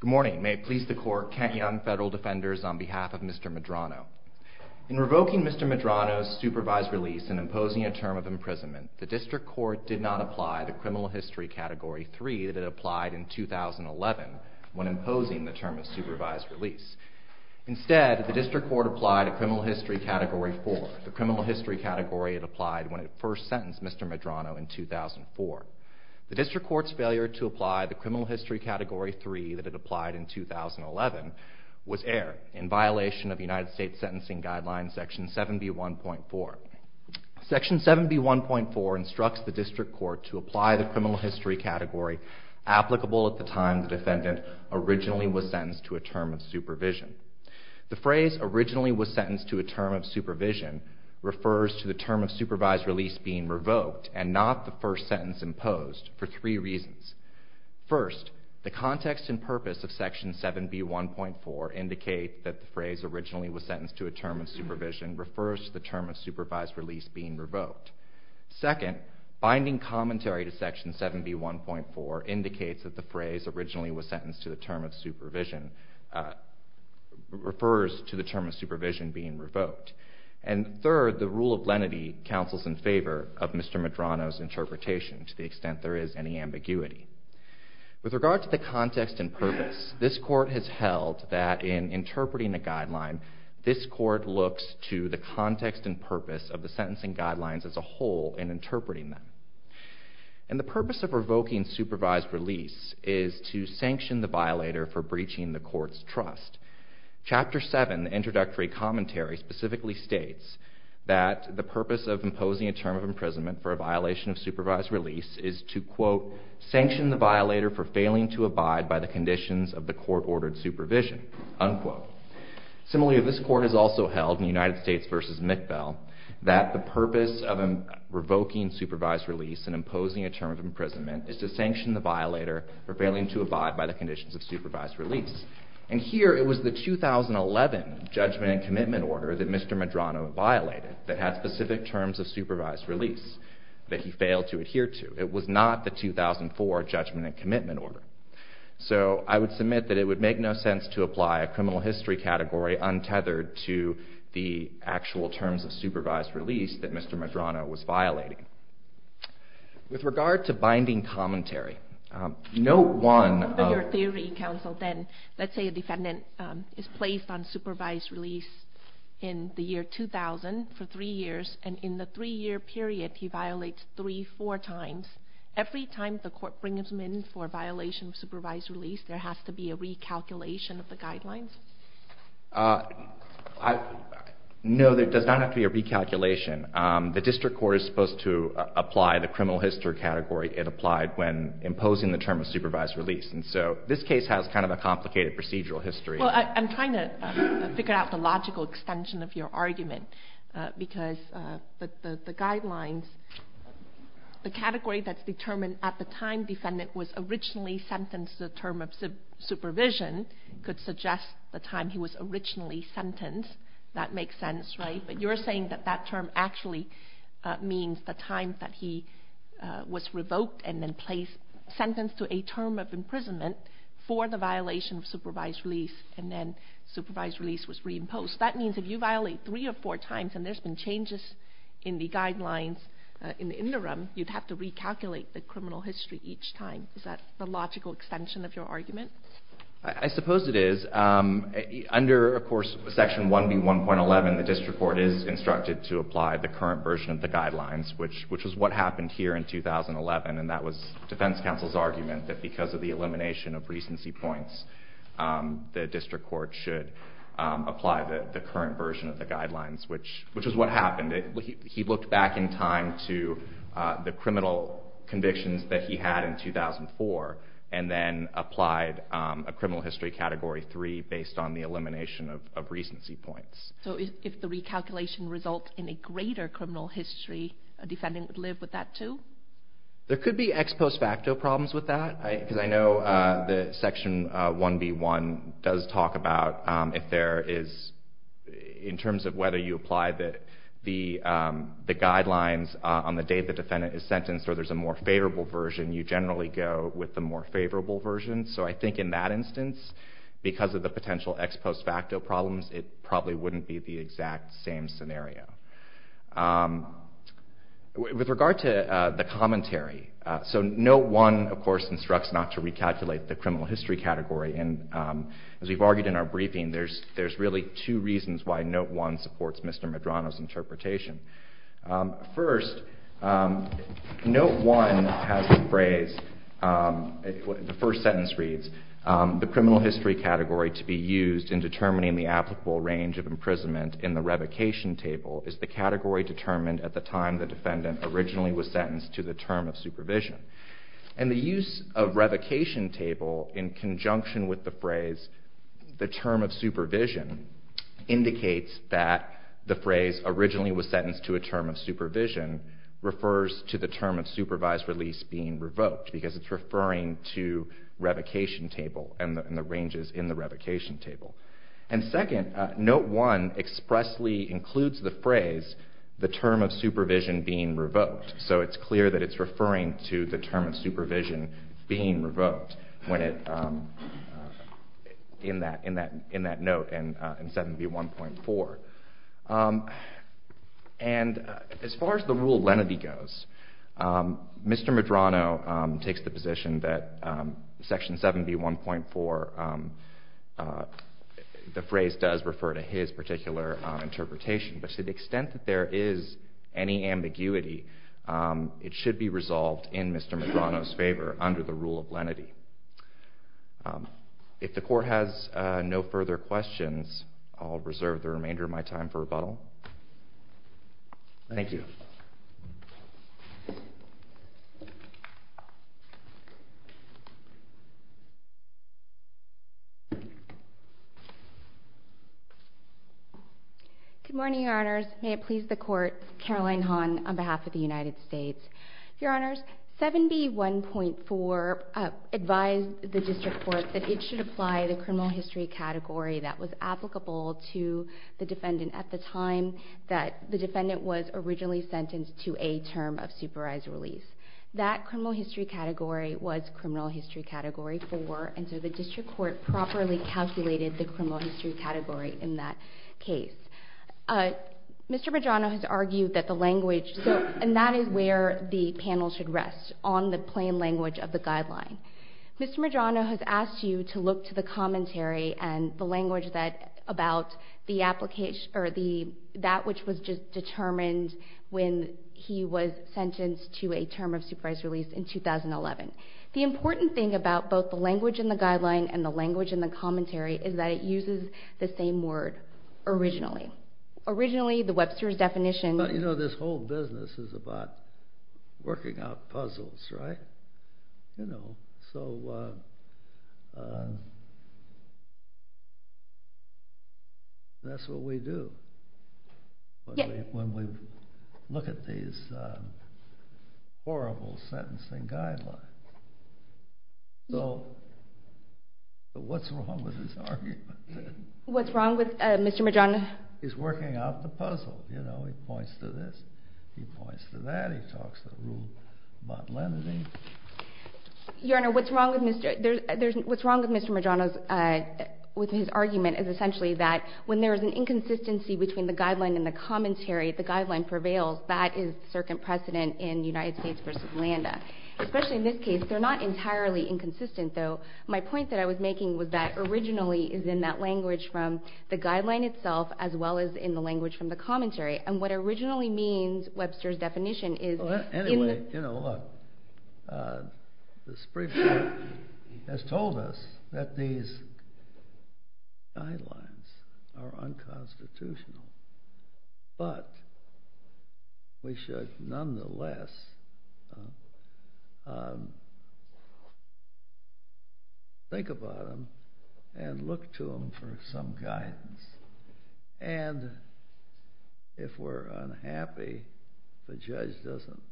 Good morning, may it please the court, Kent Young Federal Defenders, on behalf of Mr. Medrano. In revoking Mr. Medrano's supervised release and imposing a term of imprisonment the district court did not apply to criminal history category 3 that it applied in 2011 when imposing the term of supervised release. Instead, the district court applied a criminal history category 4, the criminal history category it applied when it first sentenced Mr. Medrano in 2004. The district court's failure to apply the criminal history category 3 that it applied in 2011 was aired in violation of United States sentencing guidelines section 7B1.4. Section 7B1.4 instructs the district court to apply the criminal history category applicable at the time the defendant originally was sentenced to a term of supervision. The phrase originally was sentenced to a term of supervision refers to the term of supervised release being revoked and not the first sentence imposed for three reasons. First, the context and purpose of section 7B1.4 indicate that the phrase originally was sentenced to a term of supervision refers to the term of supervised release being revoked. Second, binding commentary to section 7B1.4 indicates that the phrase originally was sentenced to a term of supervision refers to the term of supervision being revoked. And third, the rule of lenity counsels in favor of Mr. Medrano's interpretation to the extent there is any ambiguity. With regard to the context and purpose, this court has held that in interpreting a guideline, this court looks to the context and purpose of the sentencing guidelines as a whole in interpreting them. And the purpose of revoking supervised release is to sanction the violator for breaching the court's trust. Chapter 7, the introductory commentary specifically states that the purpose of imposing a term of imprisonment for a violation of supervised release is to, quote, sanction the violator for failing to abide by the conditions of the court-ordered supervision, unquote. Similarly, this court has also held in United States v. Mittel that the purpose of revoking supervised release and imposing a term of imprisonment is to sanction the violator for failing to abide by the conditions of supervised release. And here it was the 2011 judgment and commitment order that Mr. Medrano violated that had specific terms of supervised release that he failed to adhere to. It was not the 2004 judgment and commitment order. So I would submit that it would make no sense to apply a criminal history category untethered to the actual terms of supervised release that Mr. Medrano was violating. With regard to binding commentary, note one of... But your theory, counsel, then, let's say a defendant is placed on supervised release in the year 2000 for three years, and in the three-year period he violates three, four times. Every time the court brings him in for a violation of supervised release, there has to be a recalculation of the guidelines? No, there does not have to be a recalculation. The district court is supposed to apply the criminal history category it applied when imposing the term of supervised release. And so this case has kind of a complicated procedural history. Well, I'm trying to figure out the logical extension of your argument, because the guidelines, the category that's determined at the time the defendant was originally sentenced to a term of supervision could suggest the time he was originally sentenced. That makes sense, right? But you're saying that that term actually means the time that he was revoked and then placed, sentenced to a term of imprisonment for the violation of supervised release, and then supervised release was reimposed. That means if you violate three or four times, and there's been changes in the guidelines in the interim, you'd have to recalculate the criminal history each time. Is that the logical extension of your argument? I suppose it is. Under, of course, Section 1B1.11, the district court is instructed to apply the current version of the guidelines, which is what happened here in 2011. And that was defense counsel's argument that because of the elimination of recency points, the district court should apply the current version of the guidelines, which is what happened. He looked back in time to the criminal convictions that he had in 2004, and then applied a criminal history Category 3 based on the elimination of recency points. So if the recalculation results in a greater criminal history, a defendant would live with that too? There could be ex post facto problems with that, because I know that Section 1B1 does the guidelines on the day the defendant is sentenced, or there's a more favorable version. You generally go with the more favorable version. So I think in that instance, because of the potential ex post facto problems, it probably wouldn't be the exact same scenario. With regard to the commentary, so Note 1, of course, instructs not to recalculate the criminal history category. And as we've argued in our briefing, there's really two reasons why Note 1 supports Mr. Medrano's interpretation. First, Note 1 has the phrase, the first sentence reads, the criminal history category to be used in determining the applicable range of imprisonment in the revocation table is the category determined at the time the defendant originally was sentenced to the term of supervision. And the use of revocation table in conjunction with the phrase, the term of supervision, indicates that the phrase, originally was sentenced to a term of supervision, refers to the term of supervised release being revoked, because it's referring to revocation table and the ranges in the revocation table. And second, Note 1 expressly includes the phrase, the term of supervision being revoked. So it's clear that it's referring to the term of supervision being revoked in that note in 7B1.4. And as far as the rule of lenity goes, Mr. Medrano takes the position that Section 7B1.4, the phrase does refer to his particular interpretation. But to the extent that there is any ambiguity, it should be resolved in Mr. Medrano's favor under the rule of lenity. If the court has no further questions, I'll reserve the remainder of my time for rebuttal. Thank you. Good morning, Your Honors. May it please the Court, Caroline Hahn on behalf of the United States. Your Honors, 7B1.4 advised the District Court that it should apply the criminal history category that was applicable to the defendant at the time that the defendant was originally sentenced to a term of supervised release. That criminal history category was Criminal History Category 4, and so the District Court properly calculated the criminal history category in that case. Mr. Medrano has argued that the language, and that is where the panel should rest, on the plain language of the guideline. Mr. Medrano has asked you to look to the commentary and the language about that which was just determined when he was sentenced to a term of supervised release in 2011. The important thing about both the language in the guideline and the guideline, originally the Webster's definition… You know, this whole business is about working out puzzles, right? You know, so that's what we do when we look at these horrible sentencing guidelines. So, what's wrong with this argument? What's wrong with Mr. Medrano's… He's working out the puzzle, you know, he points to this, he points to that, he talks to the rule, but let me… Your Honor, what's wrong with Mr. Medrano's, with his argument is essentially that when there is an inconsistency between the guideline and the commentary, the guideline prevails, that is the circumstant precedent in United States v. Orlando. Especially in this case, they're not entirely inconsistent, though. My point that I was making was that originally is in that language from the guideline itself, as well as in the language from the commentary, and what originally means Webster's definition is… Anyway, you know, look, the Supreme Court has told us that these guidelines are unconstitutional, but we should, nonetheless, think about them and look at them in a different light. Look to them for some guidance, and if we're unhappy, the judge doesn't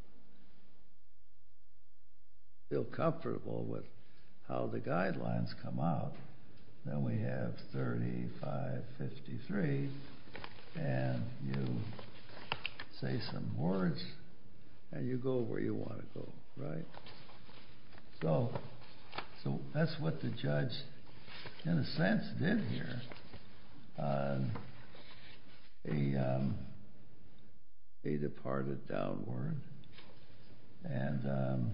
feel comfortable with how the guidelines come out, then we have 3553, and you say some words, and you go where you want to go, right? So, that's what the judge, in a sense, did here. He departed downward and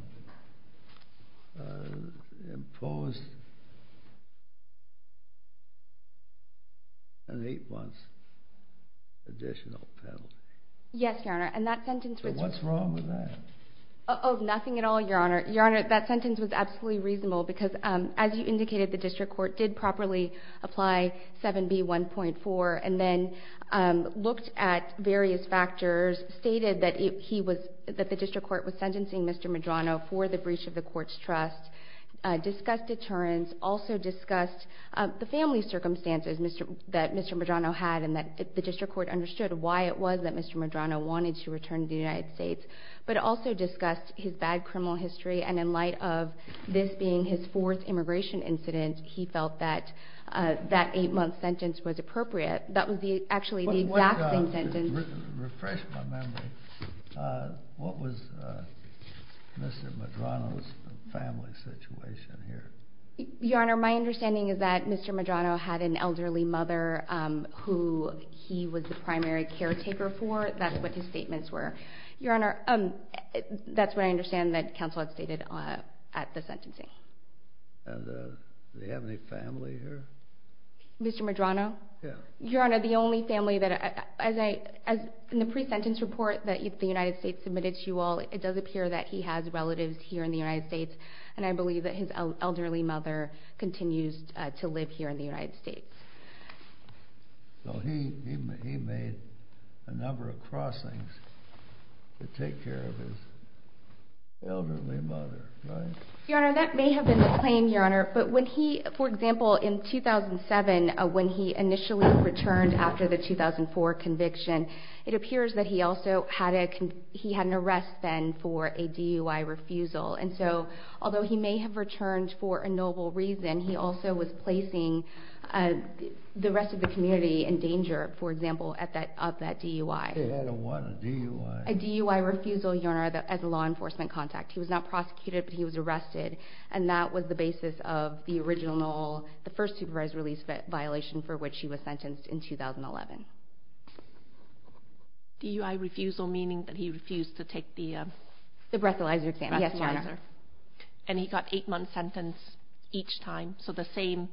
imposed an eight-month additional penalty. Yes, Your Honor, and that sentence was… What's wrong with that? Oh, nothing at all, Your Honor. Your Honor, that sentence was absolutely reasonable because, as you indicated, the district court did properly apply 7B1.4 and then looked at various factors, stated that the district court was sentencing Mr. Medrano for the breach of the court's trust, discussed deterrence, also discussed the family circumstances that Mr. Medrano had and that the district court understood why it was that Mr. Medrano wanted to return to the United States, but also discussed his bad criminal history, and in light of this being his fourth immigration incident, he felt that that eight-month sentence was appropriate. That was actually the exact same sentence… Refresh my memory. What was Mr. Medrano's family situation here? Your Honor, my understanding is that Mr. Medrano had an elderly mother who he was the primary caretaker for. That's what his statements were. Your Honor, that's what I understand that counsel had stated at the sentencing. And did he have any family here? Mr. Medrano? Yes. Your Honor, the only family that… In the pre-sentence report that the United States submitted to you all, it does appear that he has relatives here in the United States, and I believe that his elderly mother continues to live here in the United States. So he made a number of crossings to take care of his elderly mother, right? Your Honor, that may have been the claim, Your Honor, but when he… For example, in 2007, when he initially returned after the 2004 conviction, it appears that he also had a… He had an arrest then for a DUI refusal, and so, although he may have returned for a noble reason, he also was placing the rest of the community in danger, for example, of that DUI. He had a what? A DUI? A DUI refusal, Your Honor, as a law enforcement contact. He was not prosecuted, but he was arrested, and that was the basis of the original… The first supervised release violation for which he was sentenced in 2011. DUI refusal, meaning that he refused to take the… The breathalyzer exam. Yes, Your Honor. And he got an 8-month sentence each time, so the same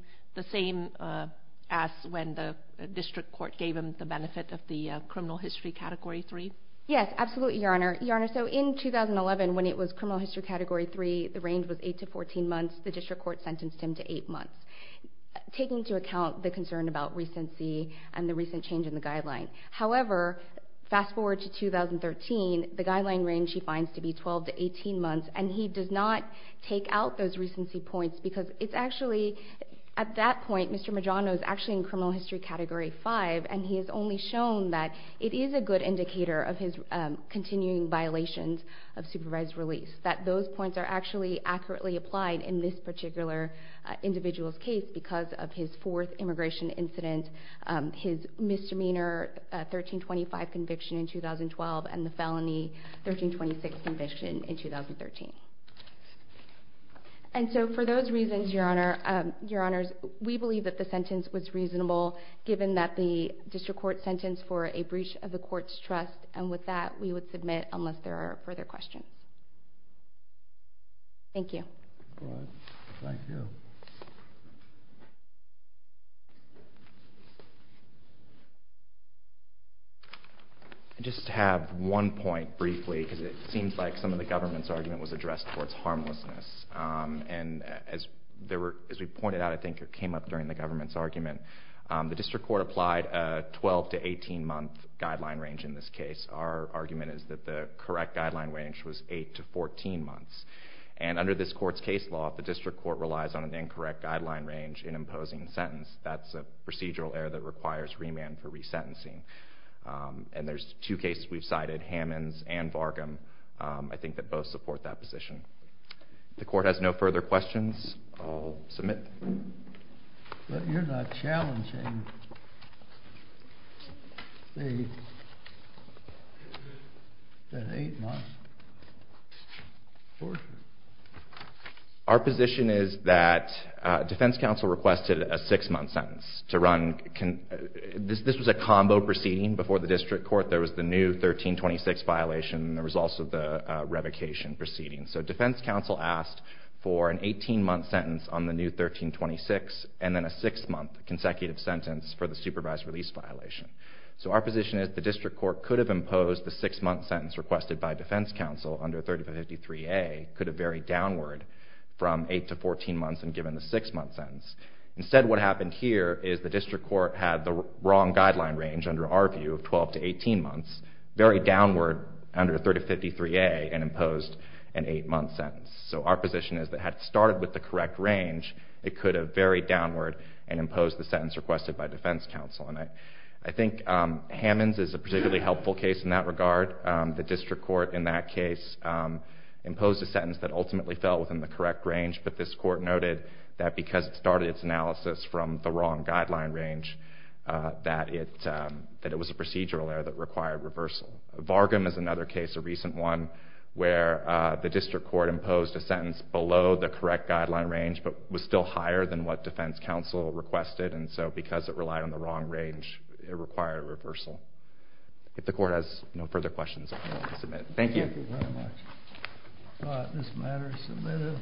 as when the district court gave him the benefit of the criminal history category 3? Yes, absolutely, Your Honor. Your Honor, so in 2011, when it was criminal history category 3, the range was 8 to 14 months. The district court sentenced him to 8 months, taking into account the concern about recency and the recent change in the guideline. However, fast forward to 2013, the guideline range he finds to be 12 to 18 months, and he does not take out those recency points because it's actually… At that point, Mr. Magiano is actually in criminal history category 5, and he has only shown that it is a good indicator of his continuing violations of supervised release, that those points are actually accurately applied in this particular individual's case because of his fourth immigration incident, his misdemeanor 1325 conviction in 2012, and the felony 1326 conviction in 2013. And so for those reasons, Your Honor, Your Honors, we believe that the sentence was reasonable given that the district court sentenced for a breach of the court's trust, and with that, we would submit unless there are further questions. Thank you. All right. Thank you. I just have one point briefly because it seems like some of the government's argument was addressed towards harmlessness, and as we pointed out, I think it came up during the government's argument, the district court applied a 12 to 18 month guideline range in this case. Our argument is that the correct guideline range was 8 to 14 months, and under this court's case law, if the district court relies on an incorrect guideline range in And there's two cases we've cited, Hammonds and Vargum, I think that both support that position. If the court has no further questions, I'll submit. But you're not challenging the 8 month forgery. Our position is that defense counsel requested a 6 month sentence to run, this was a combo proceeding before the district court, there was the new 1326 violation, and there was also the revocation proceeding. So defense counsel asked for an 18 month sentence on the new 1326, and then a 6 month consecutive sentence for the supervised release violation. So our position is the district court could have imposed the 6 month sentence requested by defense counsel under 3553A could have varied downward from 8 to 14 months and given the 6 month sentence. Instead what happened here is the district court had the wrong guideline range under our view of 12 to 18 months, varied downward under 3553A and imposed an 8 month sentence. So our position is that had it started with the correct range, it could have varied downward and imposed the sentence requested by defense counsel. And I think Hammonds is a particularly helpful case in that regard. The district court in that case imposed a sentence that ultimately fell within the district court's analysis from the wrong guideline range, that it was a procedural error that required reversal. Vargam is another case, a recent one, where the district court imposed a sentence below the correct guideline range but was still higher than what defense counsel requested, and so because it relied on the wrong range, it required reversal. If the court has no further questions, I can now submit. Thank you. Thank you very much. All right, this matter is submitted.